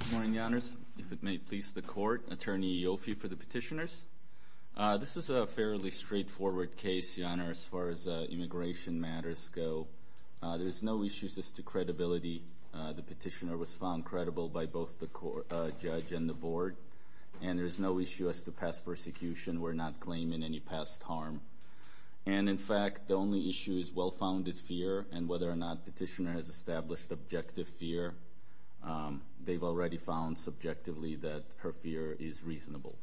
Good morning, Your Honors. If it may please the court, Attorney Ioffe for the petitioners. This is a fairly straightforward case, Your Honor, as far as immigration matters go. There's no issues as to credibility. The petitioner was found credible by both the judge and the board, and there's no issue as to past persecution. We're not claiming any past harm. And in fact, the only issue is well-founded fear, and whether or not the petitioner has established objective fear. They've already found subjectively that her fear is reasonable.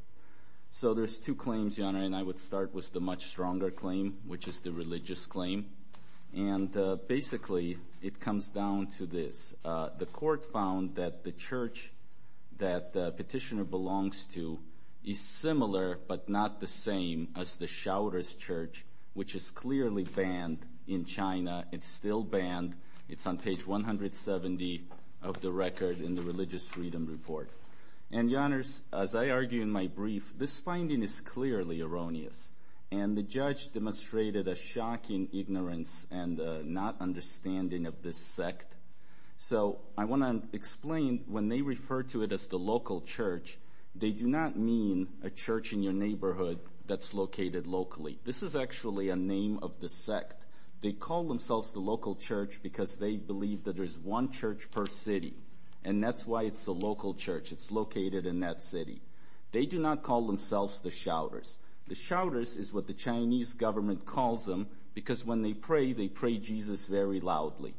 So there's two claims, Your Honor, and I would start with the much stronger claim, which is the religious claim. And basically, it comes down to this. The court found that the church that the petitioner belongs to is similar but not the same as the Shouter's Church, which is clearly banned in China. It's still banned. It's on page 170 of the record in the Religious Freedom Report. And, Your Honors, as I argue in my brief, this finding is clearly erroneous. And the judge demonstrated a shocking ignorance and not understanding of this sect. So I want to explain when they refer to it as the local church, they do not mean a church in your neighborhood that's located locally. This is actually a name of the sect. They call themselves the local church because they believe that there's one church per city. And that's why it's the local church. It's located in that city. They do not call themselves the Shouter's. The Shouter's is what the Chinese government calls them because when they pray, they pray Jesus very loudly.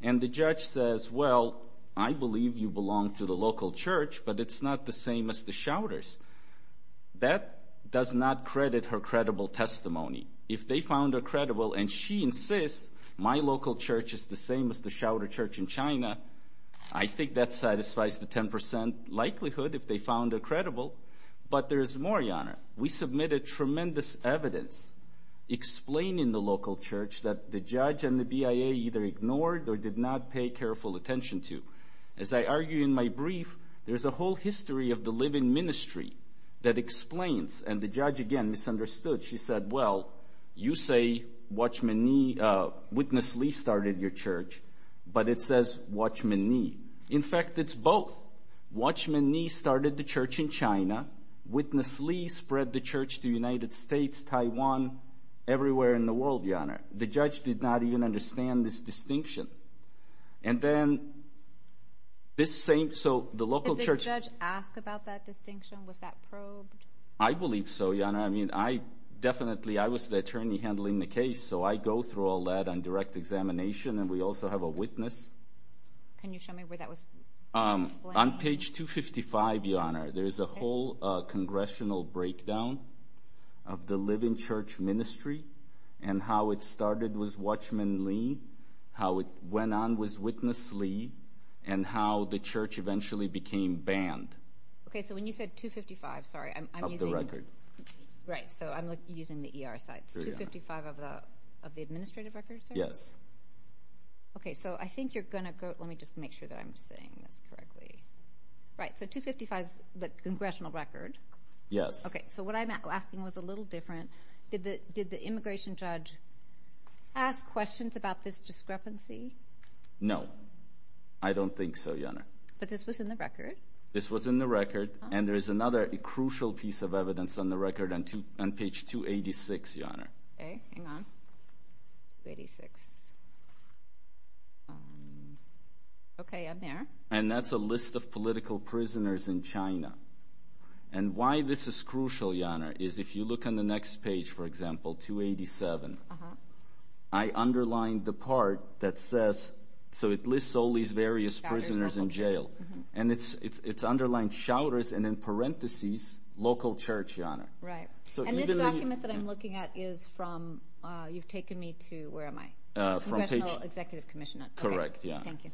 And the judge says, well, I believe you belong to the local church, but it's not the same as the Shouter's. That does not credit her credible testimony. If they found her credible and she insists my local church is the same as the Shouter Church in China, I think that satisfies the 10% likelihood if they found her credible. But there's more, Your Honor. We submitted tremendous evidence explaining the local church that the judge and the BIA either ignored or did not pay careful attention to. As I argue in my brief, there's a whole history of the living ministry that explains. And the judge, again, misunderstood. She said, well, you say Witness Lee started your church, but it says Watchman Lee. In fact, it's both. Watchman Lee started the church in China. Witness Lee spread the church to the United States, Taiwan, everywhere in the world, Your Honor. The judge did not even understand this distinction. And then this same – so the local church – Did the judge ask about that distinction? Was that probed? I believe so, Your Honor. I mean, I definitely – I was the attorney handling the case, so I go through all that on direct examination, and we also have a witness. Can you show me where that was explained? On page 255, Your Honor, there's a whole congressional breakdown of the living church ministry and how it started with Watchman Lee, how it went on with Witness Lee, and how the church eventually became banned. Okay, so when you said 255, sorry, I'm using – Of the record. Right, so I'm using the ER side. It's 255 of the administrative records, sir? Yes. Okay, so I think you're going to go – let me just make sure that I'm saying this correctly. Right, so 255 is the congressional record. Yes. Okay, so what I'm asking was a little different. Did the immigration judge ask questions about this discrepancy? No, I don't think so, Your Honor. But this was in the record. This was in the record, and there is another crucial piece of evidence on the record on page 286, Your Honor. Okay, hang on. 286. Okay, I'm there. And that's a list of political prisoners in China. And why this is crucial, Your Honor, is if you look on the next page, for example, 287, I underlined the part that says – so it lists all these various prisoners in jail. And it's underlined, shouters, and in parentheses, local church, Your Honor. Right. And this document that I'm looking at is from – you've taken me to – where am I? Congressional Executive Commission. Correct, Your Honor. Thank you.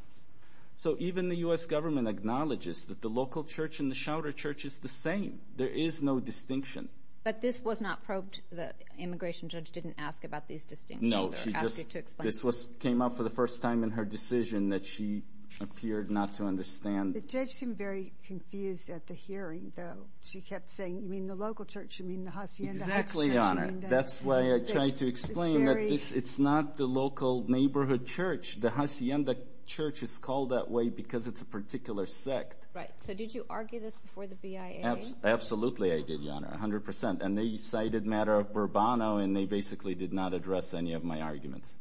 So even the U.S. government acknowledges that the local church and the shouter church is the same. There is no distinction. But this was not probed. The immigration judge didn't ask about these distinctions. No, she just – this came up for the first time in her decision that she appeared not to understand. The judge seemed very confused at the hearing, though. She kept saying, you mean the local church, you mean the hacienda. Exactly, Your Honor. That's why I tried to explain that it's not the local neighborhood church. The hacienda church is called that way because it's a particular sect. Right. So did you argue this before the BIA? Absolutely I did, Your Honor, 100%. And they cited matter of Burbano, and they basically did not address any of my arguments.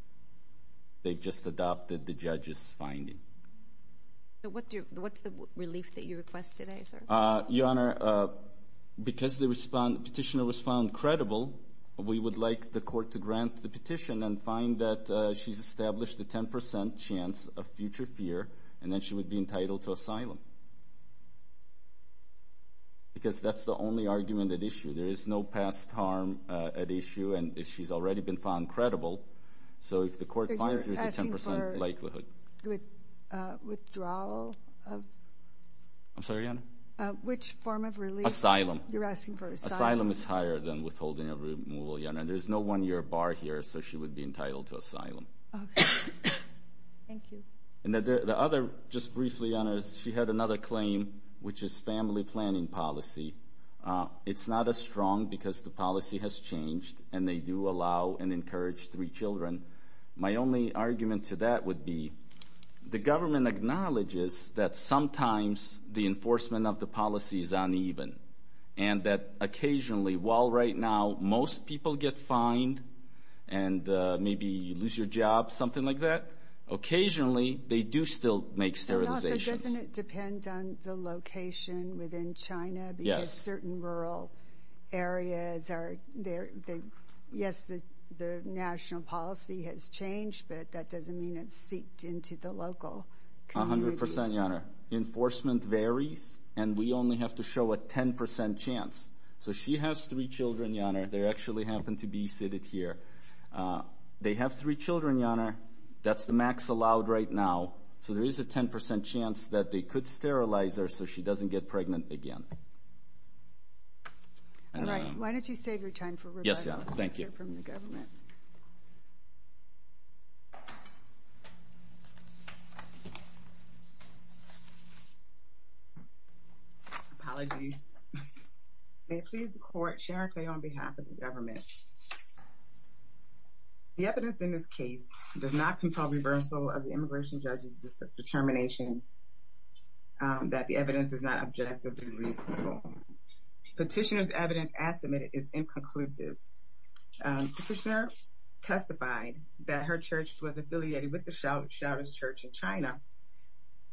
They've just adopted the judge's finding. So what's the relief that you request today, sir? Your Honor, because the petitioner was found credible, we would like the court to grant the petition and find that she's established a 10% chance of future fear, and then she would be entitled to asylum. Because that's the only argument at issue. There is no past harm at issue, and she's already been found credible. So if the court finds there's a 10% likelihood. Withdrawal? I'm sorry, Your Honor? Which form of relief? Asylum. You're asking for asylum? Asylum is higher than withholding a removal, Your Honor. There's no one-year bar here, so she would be entitled to asylum. Okay. Thank you. And the other, just briefly, Your Honor, she had another claim, which is family planning policy. It's not as strong because the policy has changed, and they do allow and encourage three children. My only argument to that would be the government acknowledges that sometimes the enforcement of the policy is uneven, and that occasionally, while right now most people get fined and maybe you lose your job, something like that, occasionally they do still make sterilizations. Doesn't it depend on the location within China? Yes. Certain rural areas are there. Yes, the national policy has changed, but that doesn't mean it's seeped into the local communities. A hundred percent, Your Honor. Enforcement varies, and we only have to show a 10% chance. So she has three children, Your Honor. They actually happen to be seated here. They have three children, Your Honor. That's the max allowed right now. So there is a 10% chance that they could sterilize her so she doesn't get pregnant again. All right. Why don't you save your time for Rebecca. Yes, Your Honor. Thank you. Let's hear from the government. Apologies. May it please the Court, Sharon Clay on behalf of the government. The evidence in this case does not control reversal of the immigration judge's determination that the evidence is not objectively reasonable. Petitioner's evidence as submitted is inconclusive. Petitioner testified that her church was affiliated with the Shouders Church in China,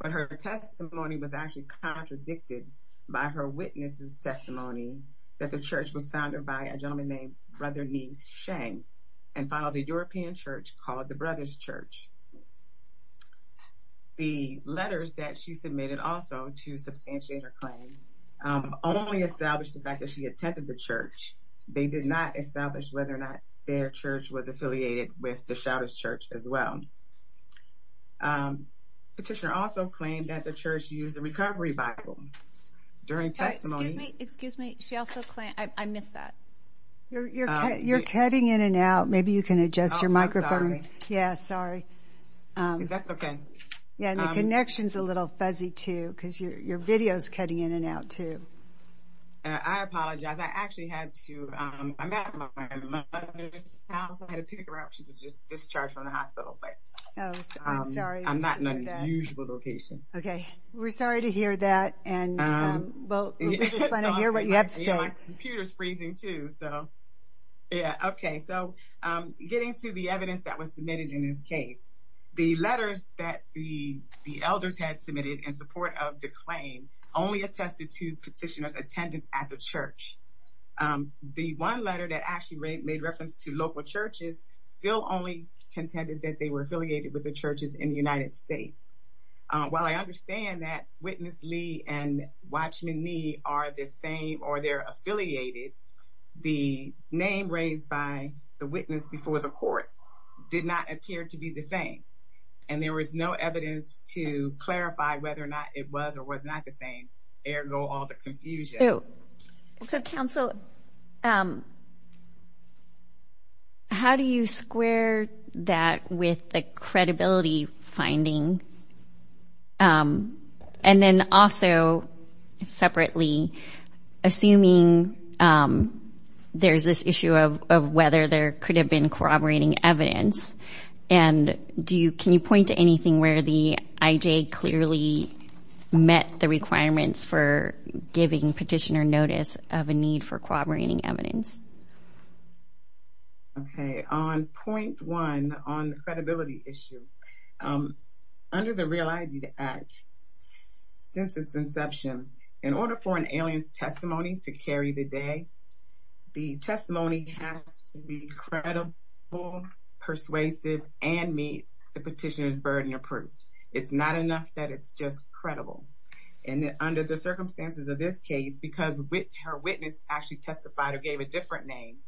but her testimony was actually contradicted by her witness's testimony that the church was founded by a gentleman named Brother Ni Shang and follows a European church called the Brothers Church. The letters that she submitted also to substantiate her claim only established the fact that she attended the church. They did not establish whether or not their church was affiliated with the Shouders Church as well. Petitioner also claimed that the church used a recovery Bible during testimony. Excuse me. Excuse me. I missed that. You're cutting in and out. Maybe you can adjust your microphone. Oh, I'm sorry. Yeah, sorry. That's okay. Yeah, and the connection's a little fuzzy, too, because your video's cutting in and out, too. I apologize. I actually had to, I'm at my mother's house. I had to pick her up. She was just discharged from the hospital, but I'm not in the usual location. Okay. We're sorry to hear that, and we just want to hear what you have to say. Yeah, my computer's freezing, too. So, yeah, okay. So getting to the evidence that was submitted in this case, the letters that the elders had submitted in support of the claim only attested to petitioner's attendance at the church. The one letter that actually made reference to local churches still only contended that they were affiliated with the churches in the United States. While I understand that Witness Lee and Watchman Nee are the same or they're affiliated, the name raised by the witness before the court did not appear to be the same, and there was no evidence to clarify whether or not it was or was not the same, ergo all the confusion. So, Counsel, how do you square that with the credibility finding? And then also, separately, assuming there's this issue of whether there could have been corroborating evidence, and can you point to anything where the IJ clearly met the requirements for giving petitioner notice of a need for corroborating evidence? Okay. On point one on the credibility issue, under the Real ID Act, since its inception, in order for an alien's testimony to carry the day, the testimony has to be credible, persuasive, and meet the petitioner's burden of proof. It's not enough that it's just credible. And under the circumstances of this case, because her witness actually testified or gave a different name,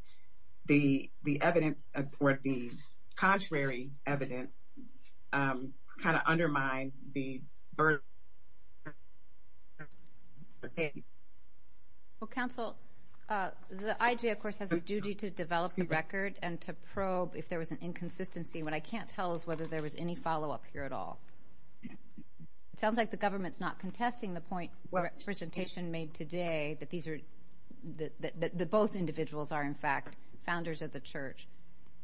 the evidence or the contrary evidence kind of undermined the burden. Well, Counsel, the IJ, of course, has a duty to develop the record and to probe if there was an inconsistency. What I can't tell is whether there was any follow-up here at all. It sounds like the government's not contesting the point the presentation made today, that both individuals are, in fact, founders of the church.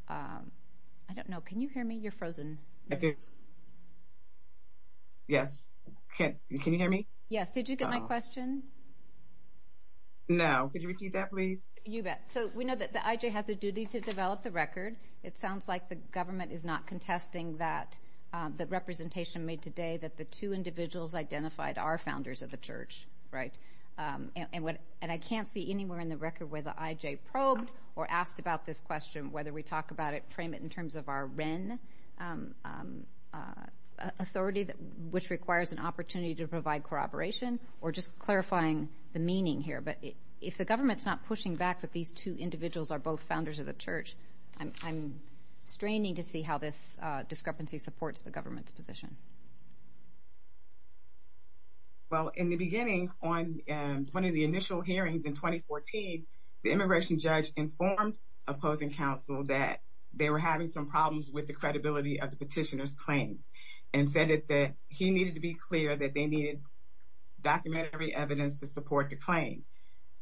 I don't know. Can you hear me? You're frozen. Yes. Can you hear me? Yes. Did you get my question? No. Could you repeat that, please? You bet. So we know that the IJ has a duty to develop the record. It sounds like the government is not contesting that representation made today, that the two individuals identified are founders of the church, right? And I can't see anywhere in the record where the IJ probed or asked about this question, whether we talk about it, frame it in terms of our REN authority, which requires an opportunity to provide corroboration, or just clarifying the meaning here. But if the government's not pushing back that these two individuals are both founders of the church, I'm straining to see how this discrepancy supports the government's position. Well, in the beginning, on one of the initial hearings in 2014, the immigration judge informed opposing counsel that they were having some problems and said that he needed to be clear that they needed documentary evidence to support the claim.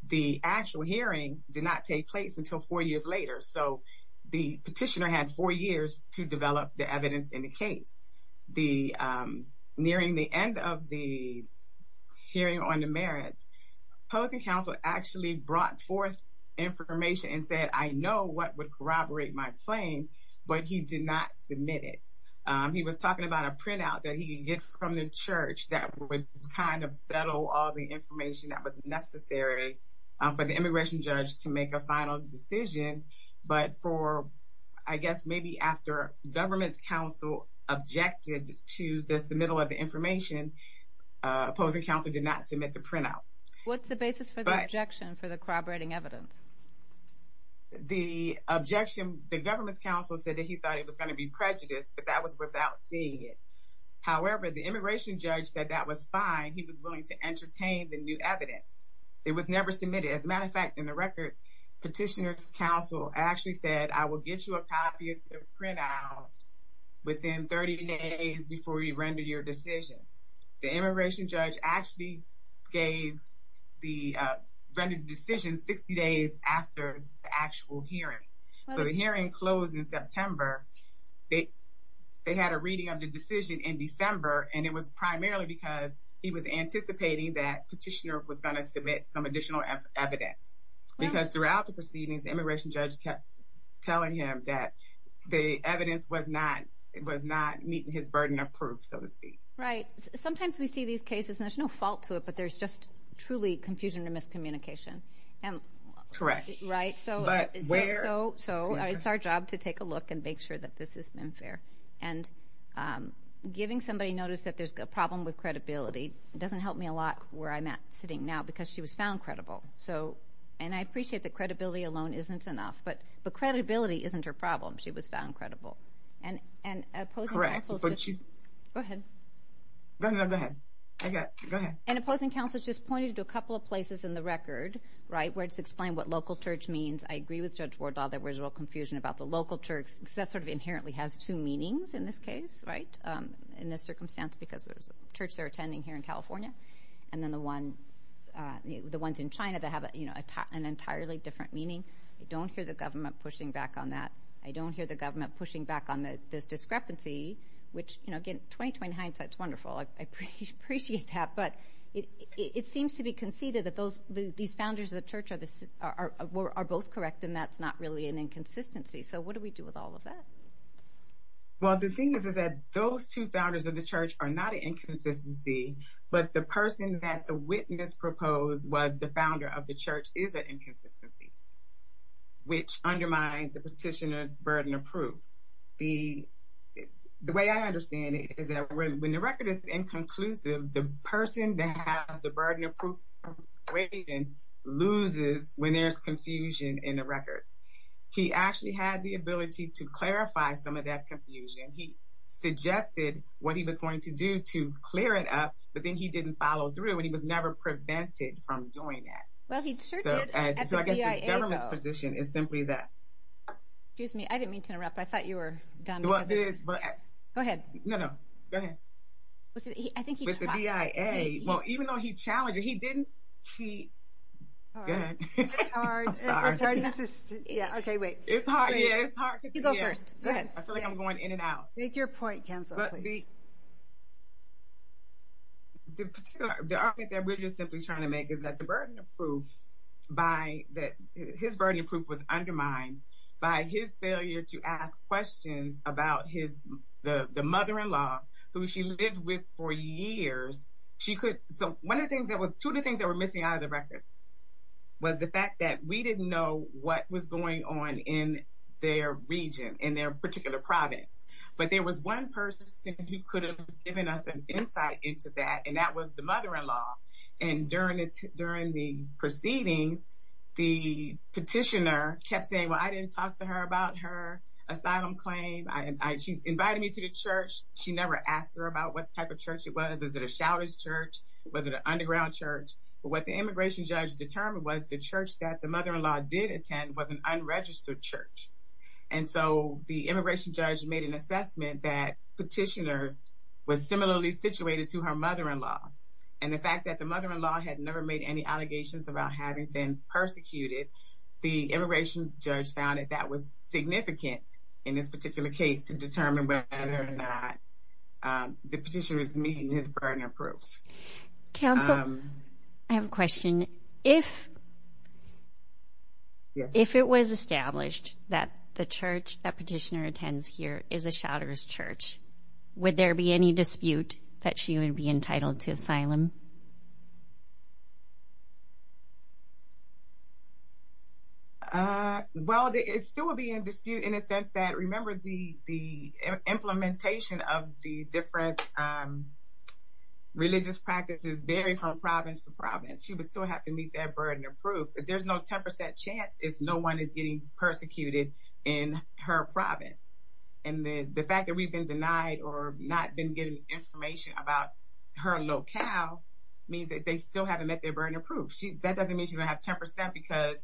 The actual hearing did not take place until four years later, so the petitioner had four years to develop the evidence in the case. Nearing the end of the hearing on the merits, opposing counsel actually brought forth information and said, I know what would corroborate my claim, but he did not submit it. He was talking about a printout that he could get from the church that would kind of settle all the information that was necessary for the immigration judge to make a final decision. But for, I guess, maybe after government's counsel objected to the submittal of the information, opposing counsel did not submit the printout. What's the basis for the objection for the corroborating evidence? The objection, the government's counsel said that he thought it was going to be prejudiced, but that was without seeing it. However, the immigration judge said that was fine. He was willing to entertain the new evidence. It was never submitted. As a matter of fact, in the record, petitioner's counsel actually said, I will get you a copy of the printout within 30 days before you render your decision. The immigration judge actually rendered the decision 60 days after the actual hearing. So the hearing closed in September. They had a reading of the decision in December, and it was primarily because he was anticipating that petitioner was going to submit some additional evidence. Because throughout the proceedings, the immigration judge kept telling him that the evidence was not meeting his burden of proof, so to speak. Right. Sometimes we see these cases, and there's no fault to it, but there's just truly confusion and miscommunication. Correct. Right? But where? So it's our job to take a look and make sure that this has been fair. And giving somebody notice that there's a problem with credibility doesn't help me a lot where I'm at sitting now because she was found credible. And I appreciate that credibility alone isn't enough, but credibility isn't her problem. She was found credible. Correct. Go ahead. No, go ahead. Go ahead. And opposing counsel just pointed to a couple of places in the record, right, where it's explained what local church means. I agree with Judge Wardlaw there was a little confusion about the local church because that sort of inherently has two meanings in this case, right, in this circumstance, because there's a church they're attending here in California, and then the ones in China that have an entirely different meaning. I don't hear the government pushing back on that. I don't hear the government pushing back on this discrepancy, which, you know, again, 20-20 hindsight is wonderful. I appreciate that. But it seems to be conceded that these founders of the church are both correct, and that's not really an inconsistency. So what do we do with all of that? Well, the thing is that those two founders of the church are not an inconsistency, but the person that the witness proposed was the founder of the church is an inconsistency, which undermines the petitioner's burden of proof. The way I understand it is that when the record is inconclusive, the person that has the burden of proof loses when there's confusion in the record. He actually had the ability to clarify some of that confusion. He suggested what he was going to do to clear it up, but then he didn't follow through, and he was never prevented from doing that. Well, he sure did at the BIA, though. So I guess the government's position is simply that. Excuse me. I didn't mean to interrupt. I thought you were done. Go ahead. No, no. Go ahead. I think he tried. With the BIA. Well, even though he challenged it, he didn't. Go ahead. It's hard. I'm sorry. Yeah, okay, wait. It's hard. Yeah, it's hard. You go first. Go ahead. I feel like I'm going in and out. Make your point, Kenzo, please. The argument that we're just simply trying to make is that the burden of proof by that his burden of proof was undermined by his failure to ask questions about the mother-in-law who she lived with for years. So two of the things that were missing out of the record was the fact that we didn't know what was going on in their region, in their particular province. But there was one person who could have given us an insight into that, and that was the mother-in-law. And during the proceedings, the petitioner kept saying, well, I didn't talk to her about her asylum claim. She's invited me to the church. She never asked her about what type of church it was. Was it a chalice church? Was it an underground church? But what the immigration judge determined was the church that the mother-in-law did attend was an unregistered church. And so the immigration judge made an assessment that petitioner was similarly situated to her mother-in-law. And the fact that the mother-in-law had never made any allegations about having been persecuted, the immigration judge found that that was significant in this particular case to determine whether or not the petitioner was meeting his burden of proof. Counsel, I have a question. If it was established that the church that petitioner attends here is a chalice church, would there be any dispute that she would be entitled to asylum? Well, it still would be in dispute in the sense that, remember, the implementation of the different religious practices vary from province to province. She would still have to meet that burden of proof. There's no 10% chance if no one is getting persecuted in her province. And the fact that we've been denied or not been getting information about her locale means that they still haven't met their burden of proof. That doesn't mean she's going to have 10% because,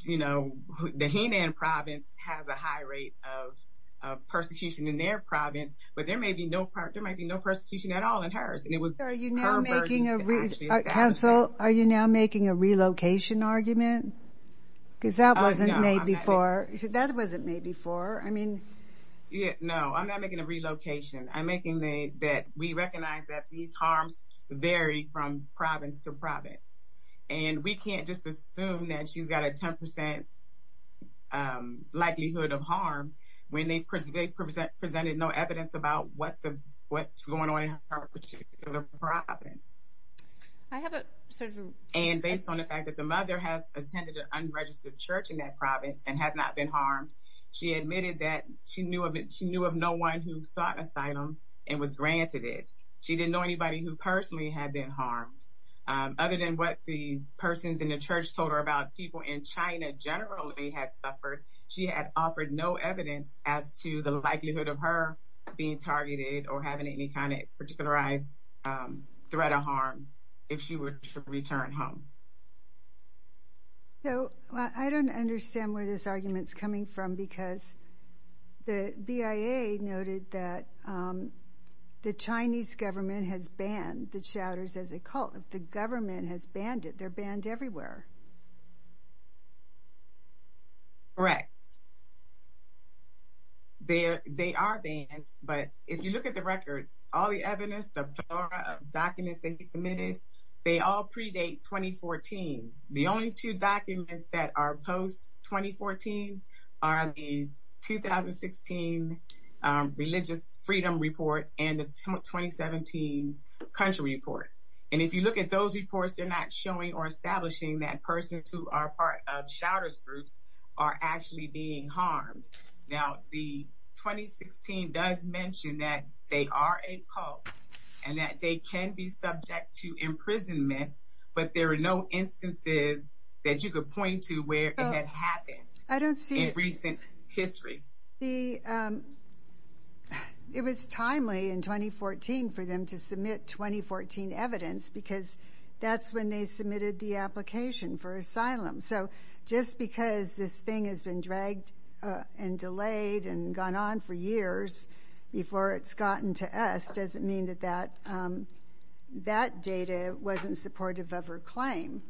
you know, the Henan province has a high rate of persecution in their province, but there may be no persecution at all in hers. Counsel, are you now making a relocation argument? Because that wasn't made before. That wasn't made before. I mean... No, I'm not making a relocation. I'm making that we recognize that these harms vary from province to province. And we can't just assume that she's got a 10% likelihood of harm when they presented no evidence about what's going on in her particular province. And based on the fact that the mother has attended an unregistered church in that province and has not been harmed, she admitted that she knew of no one who sought asylum and was granted it. She didn't know anybody who personally had been harmed. Other than what the persons in the church told her about people in China generally had suffered, she had offered no evidence as to the likelihood of her being targeted or having any kind of particularized threat or harm if she were to return home. So, I don't understand where this argument's coming from because the BIA noted that the Chinese government has banned the Chowders as a cult. The government has banned it. They're banned everywhere. Correct. They are banned, but if you look at the record, all the evidence, the plethora of documents they submitted, they all predate 2014. The only two documents that are post-2014 are the 2016 Religious Freedom Report and the 2017 Country Report. And if you look at those reports, they're not showing or establishing that persons who are part of Chowders groups are actually being harmed. Now, the 2016 does mention that they are a cult and that they can be subject to imprisonment, but there are no instances that you could point to where it had happened in recent history. It was timely in 2014 for them to submit 2014 evidence because that's when they submitted the application for asylum. So, just because this thing has been dragged and delayed and gone on for years before it's gotten to us doesn't mean that that data wasn't supportive of her claim.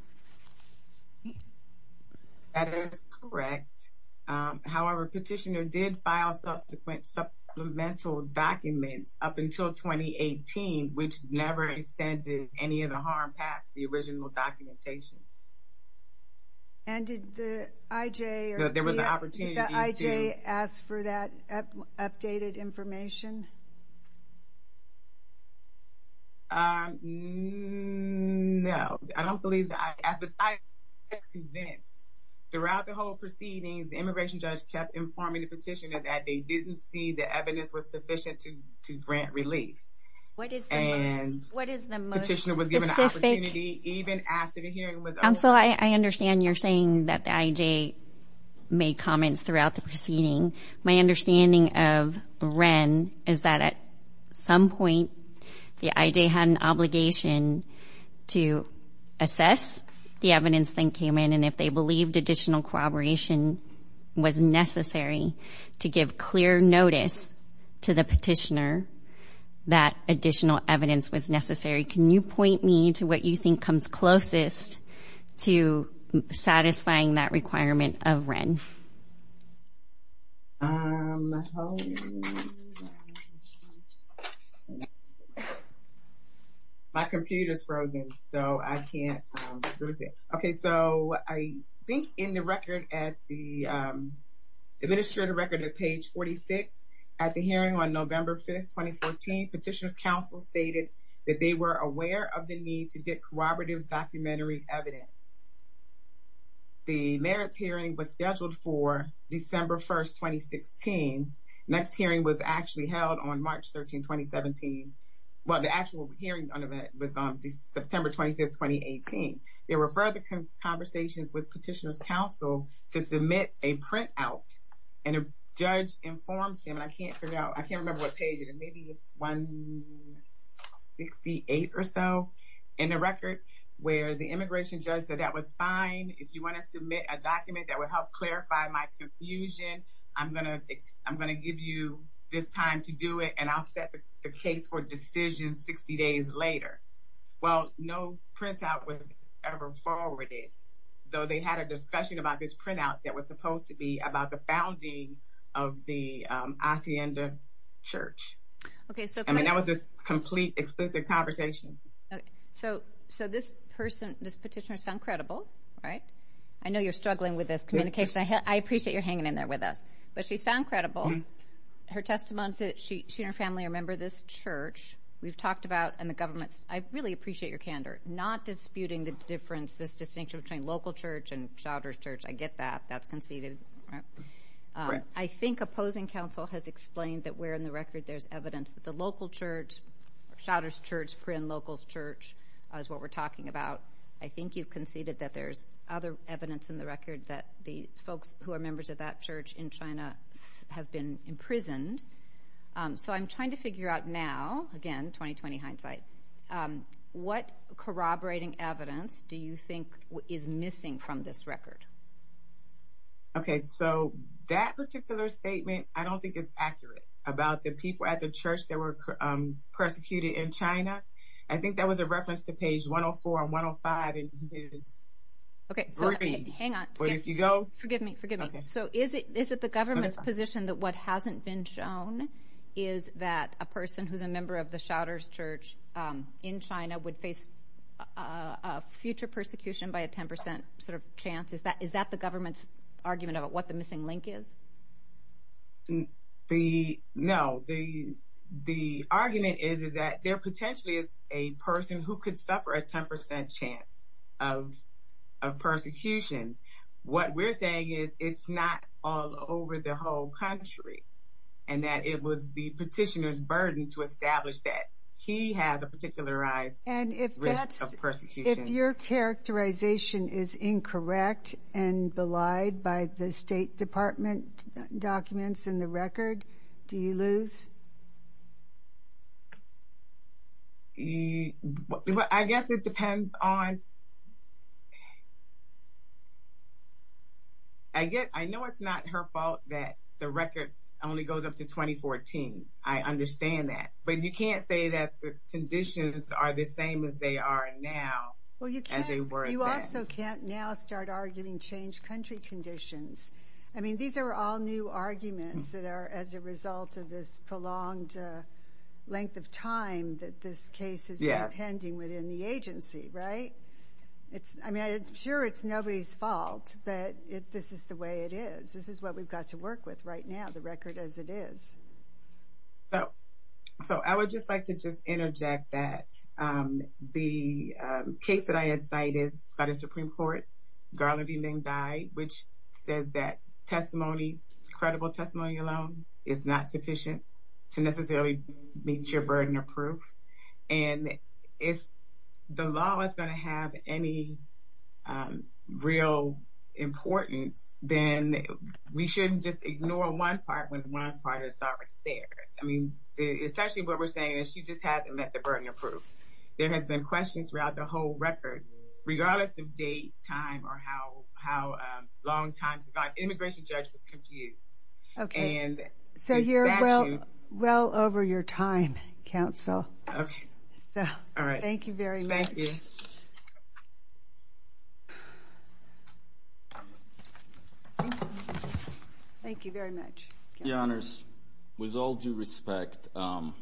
That is correct. However, Petitioner did file subsequent supplemental documents up until 2018, which never extended any of the harm past the original documentation. And did the IJ... There was an opportunity to... Did the IJ ask for that updated information? No. I don't believe the IJ asked, but I am convinced throughout the whole proceedings the immigration judge kept informing the Petitioner that they didn't see the evidence was sufficient to grant relief. What is the most specific... And Petitioner was given the opportunity even after the hearing was over. Counsel, I understand you're saying that the IJ made comments throughout the proceeding. My understanding of Wren is that at some point, the IJ had an obligation to assess the evidence that came in and if they believed additional corroboration was necessary to give clear notice to the Petitioner that additional evidence was necessary. Can you point me to what you think comes closest to satisfying that requirement of Wren? My computer's frozen, so I can't... Okay, so I think in the record at the... Administrative record at page 46, at the hearing on November 5th, 2014, Petitioner's counsel stated that they were aware of the need to get corroborative documentary evidence. The merits hearing was scheduled for December 1st, 2016. Next hearing was actually held on March 13th, 2017. Well, the actual hearing was on September 25th, 2018. There were further conversations with Petitioner's counsel to submit a printout and a judge informed him, and I can't figure out... Maybe it's 168 or so in the record, where the immigration judge said that was fine. If you want to submit a document that would help clarify my confusion, I'm going to give you this time to do it and I'll set the case for decision 60 days later. Well, no printout was ever forwarded, though they had a discussion about this printout that was supposed to be about the founding of the Hacienda Church. Okay, so... I mean, that was this complete, explicit conversation. Okay, so this person, this Petitioner's found credible, right? I know you're struggling with this communication. I appreciate you're hanging in there with us, but she's found credible. Her testimony said she and her family are a member of this church. We've talked about, and the government's... I really appreciate your candor, not disputing the difference, this distinction between local church and Shouders Church. I get that. That's conceded, right? I think opposing counsel has explained that where in the record there's evidence that the local church, Shouders Church, Prynne Locals Church, is what we're talking about. I think you've conceded that there's other evidence in the record that the folks who are members of that church in China have been imprisoned. So I'm trying to figure out now, again, 20-20 hindsight, what corroborating evidence do you think is missing from this record? Okay, so that particular statement I don't think is accurate about the people at the church that were persecuted in China. I think that was a reference to page 104 and 105 in his brief. Okay, so hang on. If you go... Forgive me, forgive me. So is it the government's position that what hasn't been shown is that a person who's a member of the Shouders Church in China would face future persecution by a 10% chance? Is that the government's argument about what the missing link is? No, the argument is that there potentially is a person who could suffer a 10% chance of persecution. What we're saying is it's not all over the whole country and that it was the petitioner's burden to establish that he has a particularized risk of persecution. And if your characterization is incorrect and belied by the State Department documents in the record, do you lose? I guess it depends on... I know it's not her fault that the record only goes up to 2014. I understand that. But you can't say that the conditions are the same as they are now. Well, you also can't now start arguing changed country conditions. I mean, these are all new arguments that are as a result of this prolonged length of time that this case is impending within the agency, right? I mean, I'm sure it's nobody's fault, but this is the way it is. This is what we've got to work with right now, the record as it is. So I would just like to just interject that the case that I had cited by the Supreme Court, Garland v. Ming Dai, which says that testimony, credible testimony alone, is not sufficient to necessarily meet your burden of proof. And if the law is going to have any real importance, then we shouldn't just ignore one part when one part is already there. I mean, essentially what we're saying is she just hasn't met the burden of proof. There has been questions throughout the whole record, regardless of date, time, or how long time survived. The immigration judge was confused. Okay. So you're well over your time, counsel. Okay. All right. Thank you very much. Thank you. Thank you very much. Your Honors, with all due respect, the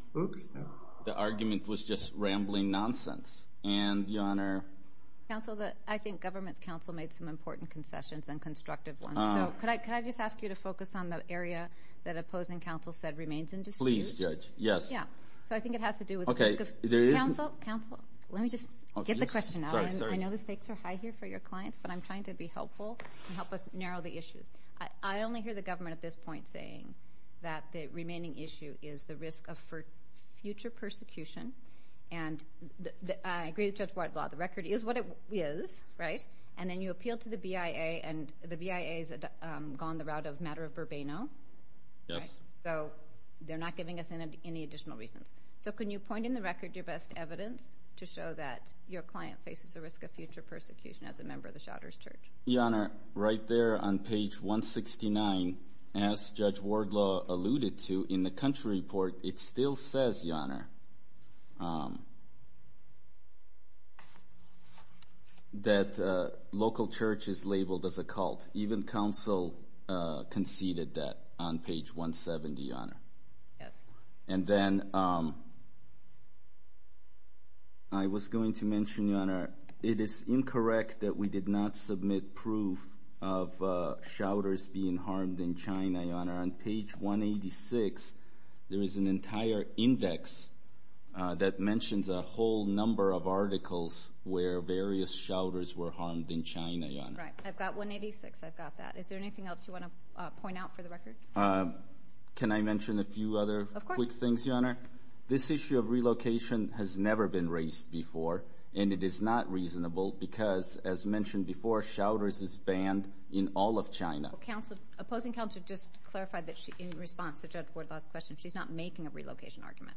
argument was just rambling nonsense. And, Your Honor. Counsel, I think government's counsel made some important concessions and constructive ones. So could I just ask you to focus on the area that opposing counsel said remains in dispute? Please, Judge. Yes. Yeah. So I think it has to do with the risk of counsel. Let me just get the question out. I know the stakes are high here for your clients, but I'm trying to be helpful and help us narrow the issues. I only hear the government at this point saying that the remaining issue is the risk of future persecution. And I agree with Judge Wardlaw. The record is what it is, right? And then you appealed to the BIA, and the BIA has gone the route of matter of verbeno. Yes. So they're not giving us any additional reasons. So can you point in the record your best evidence to show that your client faces the risk of future persecution as a member of the Shouters Church? Your Honor, right there on page 169, as Judge Wardlaw alluded to in the country report, it still says, Your Honor, that local church is labeled as a cult. Even counsel conceded that on page 170, Your Honor. Yes. And then I was going to mention, Your Honor, it is incorrect that we did not submit proof of Shouters being harmed in China, Your Honor. On page 186, there is an entire index that mentions a whole number of articles where various Shouters were harmed in China, Your Honor. Right. I've got 186. I've got that. Is there anything else you want to point out for the record? Can I mention a few other quick things, Your Honor? Of course. This issue of relocation has never been raised before, and it is not reasonable because, as mentioned before, Shouters is banned in all of China. Well, opposing counsel just clarified that in response to Judge Wardlaw's question, she's not making a relocation argument.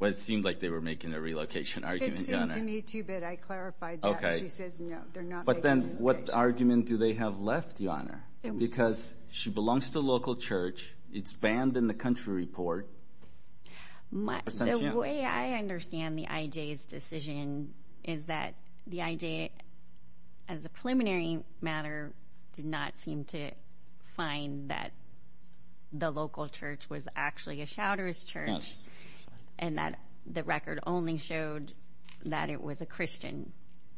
Well, it seemed like they were making a relocation argument, Your Honor. It seemed to me, too, but I clarified that. She says no, they're not making a relocation argument. But then what argument do they have left, Your Honor? Because she belongs to the local church, it's banned in the country report. The way I understand the IJ's decision is that the IJ, as a preliminary matter, did not seem to find that the local church was actually a Shouters church and that the record only showed that it was a Christian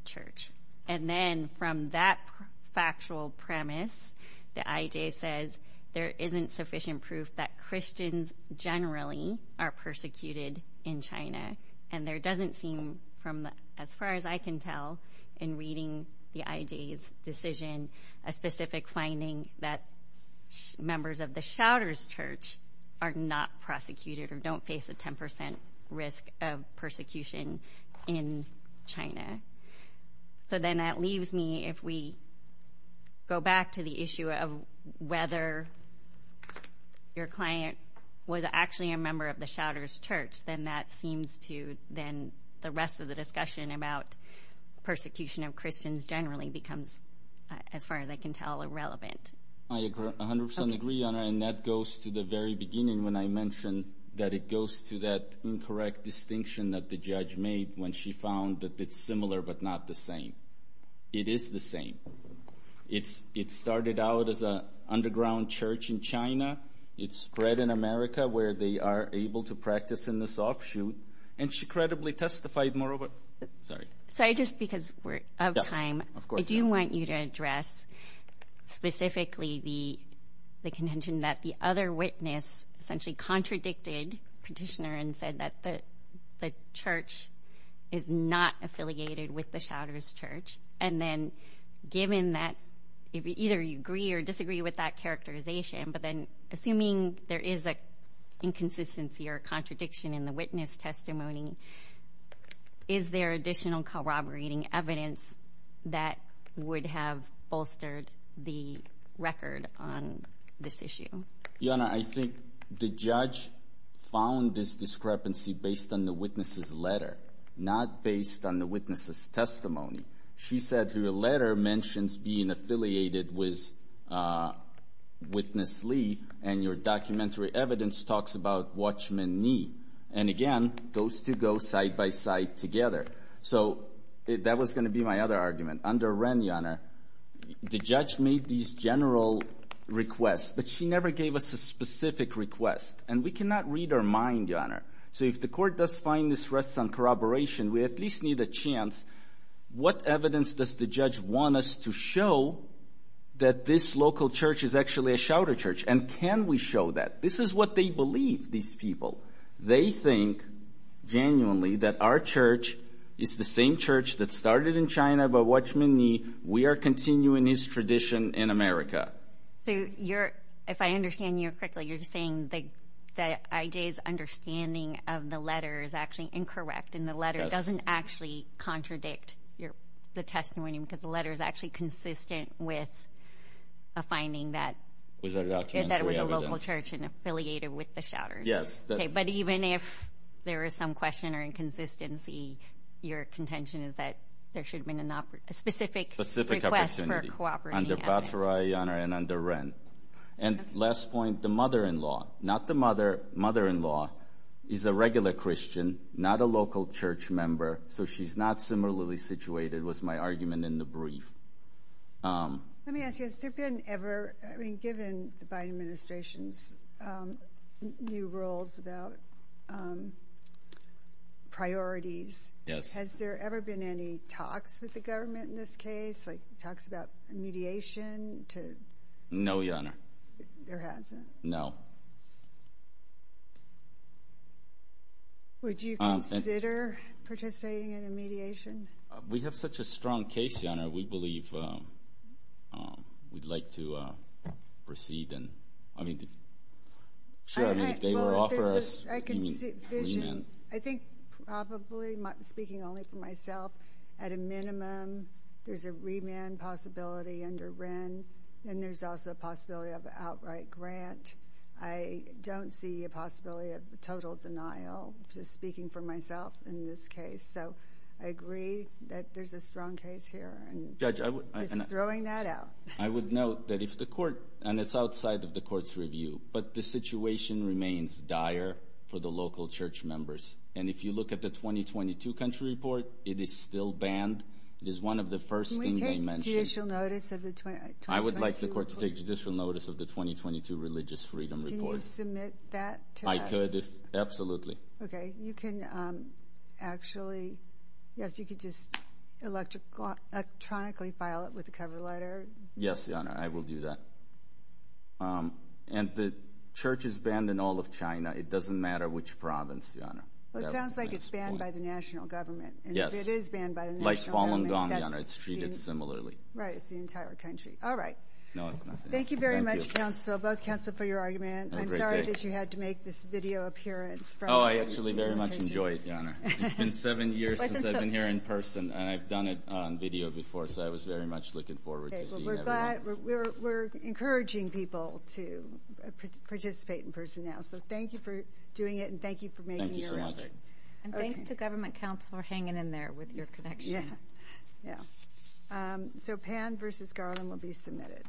church. And then from that factual premise, the IJ says there isn't sufficient proof that Christians generally are persecuted in China. And there doesn't seem, as far as I can tell in reading the IJ's decision, a specific finding that members of the Shouters church are not prosecuted or don't face a 10% risk of persecution in China. So then that leaves me, if we go back to the issue of whether your client was actually a member of the Shouters church, then that seems to, then the rest of the discussion about persecution of Christians generally becomes, as far as I can tell, irrelevant. I 100% agree, Your Honor, and that goes to the very beginning when I mentioned that it goes to that incorrect distinction that the judge made when she found that it's similar but not the same. It is the same. It started out as an underground church in China. It's spread in America where they are able to practice in this offshoot. And she credibly testified moreover. Sorry. Just because we're out of time, I do want you to address specifically the contention that the other witness essentially contradicted the petitioner and said that the church is not affiliated with the Shouters church. And then given that either you agree or disagree with that characterization, but then assuming there is an inconsistency or contradiction in the witness testimony, is there additional corroborating evidence that would have bolstered the record on this issue? Your Honor, I think the judge found this discrepancy based on the witness's letter, She said her letter mentions being affiliated with Witness Lee and your documentary evidence talks about Watchman Nee. And again, those two go side by side together. So that was going to be my other argument. Under Wren, Your Honor, the judge made these general requests, but she never gave us a specific request. And we cannot read our mind, Your Honor. So if the court does find this rests on corroboration, we at least need a chance. What evidence does the judge want us to show that this local church is actually a Shouter church? And can we show that? This is what they believe, these people. They think genuinely that our church is the same church that started in China by Watchman Nee. We are continuing this tradition in America. So if I understand you correctly, you're saying that I.J.'s understanding of the letter is actually incorrect and the letter doesn't actually contradict the testimony because the letter is actually consistent with a finding that it was a local church and affiliated with the Shouters. But even if there is some question or inconsistency, your contention is that there should have been a specific request for a cooperating evidence. Under Batra, Your Honor, and under Wren. And last point, the mother-in-law. Not the mother. Mother-in-law is a regular Christian, not a local church member, so she's not similarly situated was my argument in the brief. Let me ask you, has there been ever, I mean, given the Biden administration's new rules about priorities, has there ever been any talks with the government in this case, like talks about mediation? No, Your Honor. There hasn't? No. Would you consider participating in a mediation? We have such a strong case, Your Honor, we believe we'd like to proceed and, I mean, if they were to offer us remand. I think probably, speaking only for myself, at a minimum there's a remand possibility under Wren and there's also a possibility of an outright grant. I don't see a possibility of total denial, just speaking for myself in this case. So I agree that there's a strong case here. Judge, I would. Just throwing that out. I would note that if the court, and it's outside of the court's review, but the situation remains dire for the local church members. And if you look at the 2022 country report, it is still banned. It is one of the first things they mentioned. Judicial notice of the 2022? I would like the court to take judicial notice of the 2022 religious freedom report. Can you submit that to us? I could, absolutely. Okay. You can actually, yes, you could just electronically file it with a cover letter. Yes, Your Honor, I will do that. And the church is banned in all of China. It doesn't matter which province, Your Honor. Well, it sounds like it's banned by the national government. Yes. It is banned by the national government. Like Guangdong, Your Honor. It's treated similarly. Right, it's the entire country. All right. No, it's nothing. Thank you very much, both counsel, for your argument. I'm sorry that you had to make this video appearance. Oh, I actually very much enjoyed it, Your Honor. It's been seven years since I've been here in person, and I've done it on video before, so I was very much looking forward to seeing everyone. We're encouraging people to participate in person now. So thank you for doing it, and thank you for making your remark. Thank you so much. And thanks to government counsel for hanging in there with your connection. Yeah, yeah. So Pan v. Garland will be submitted.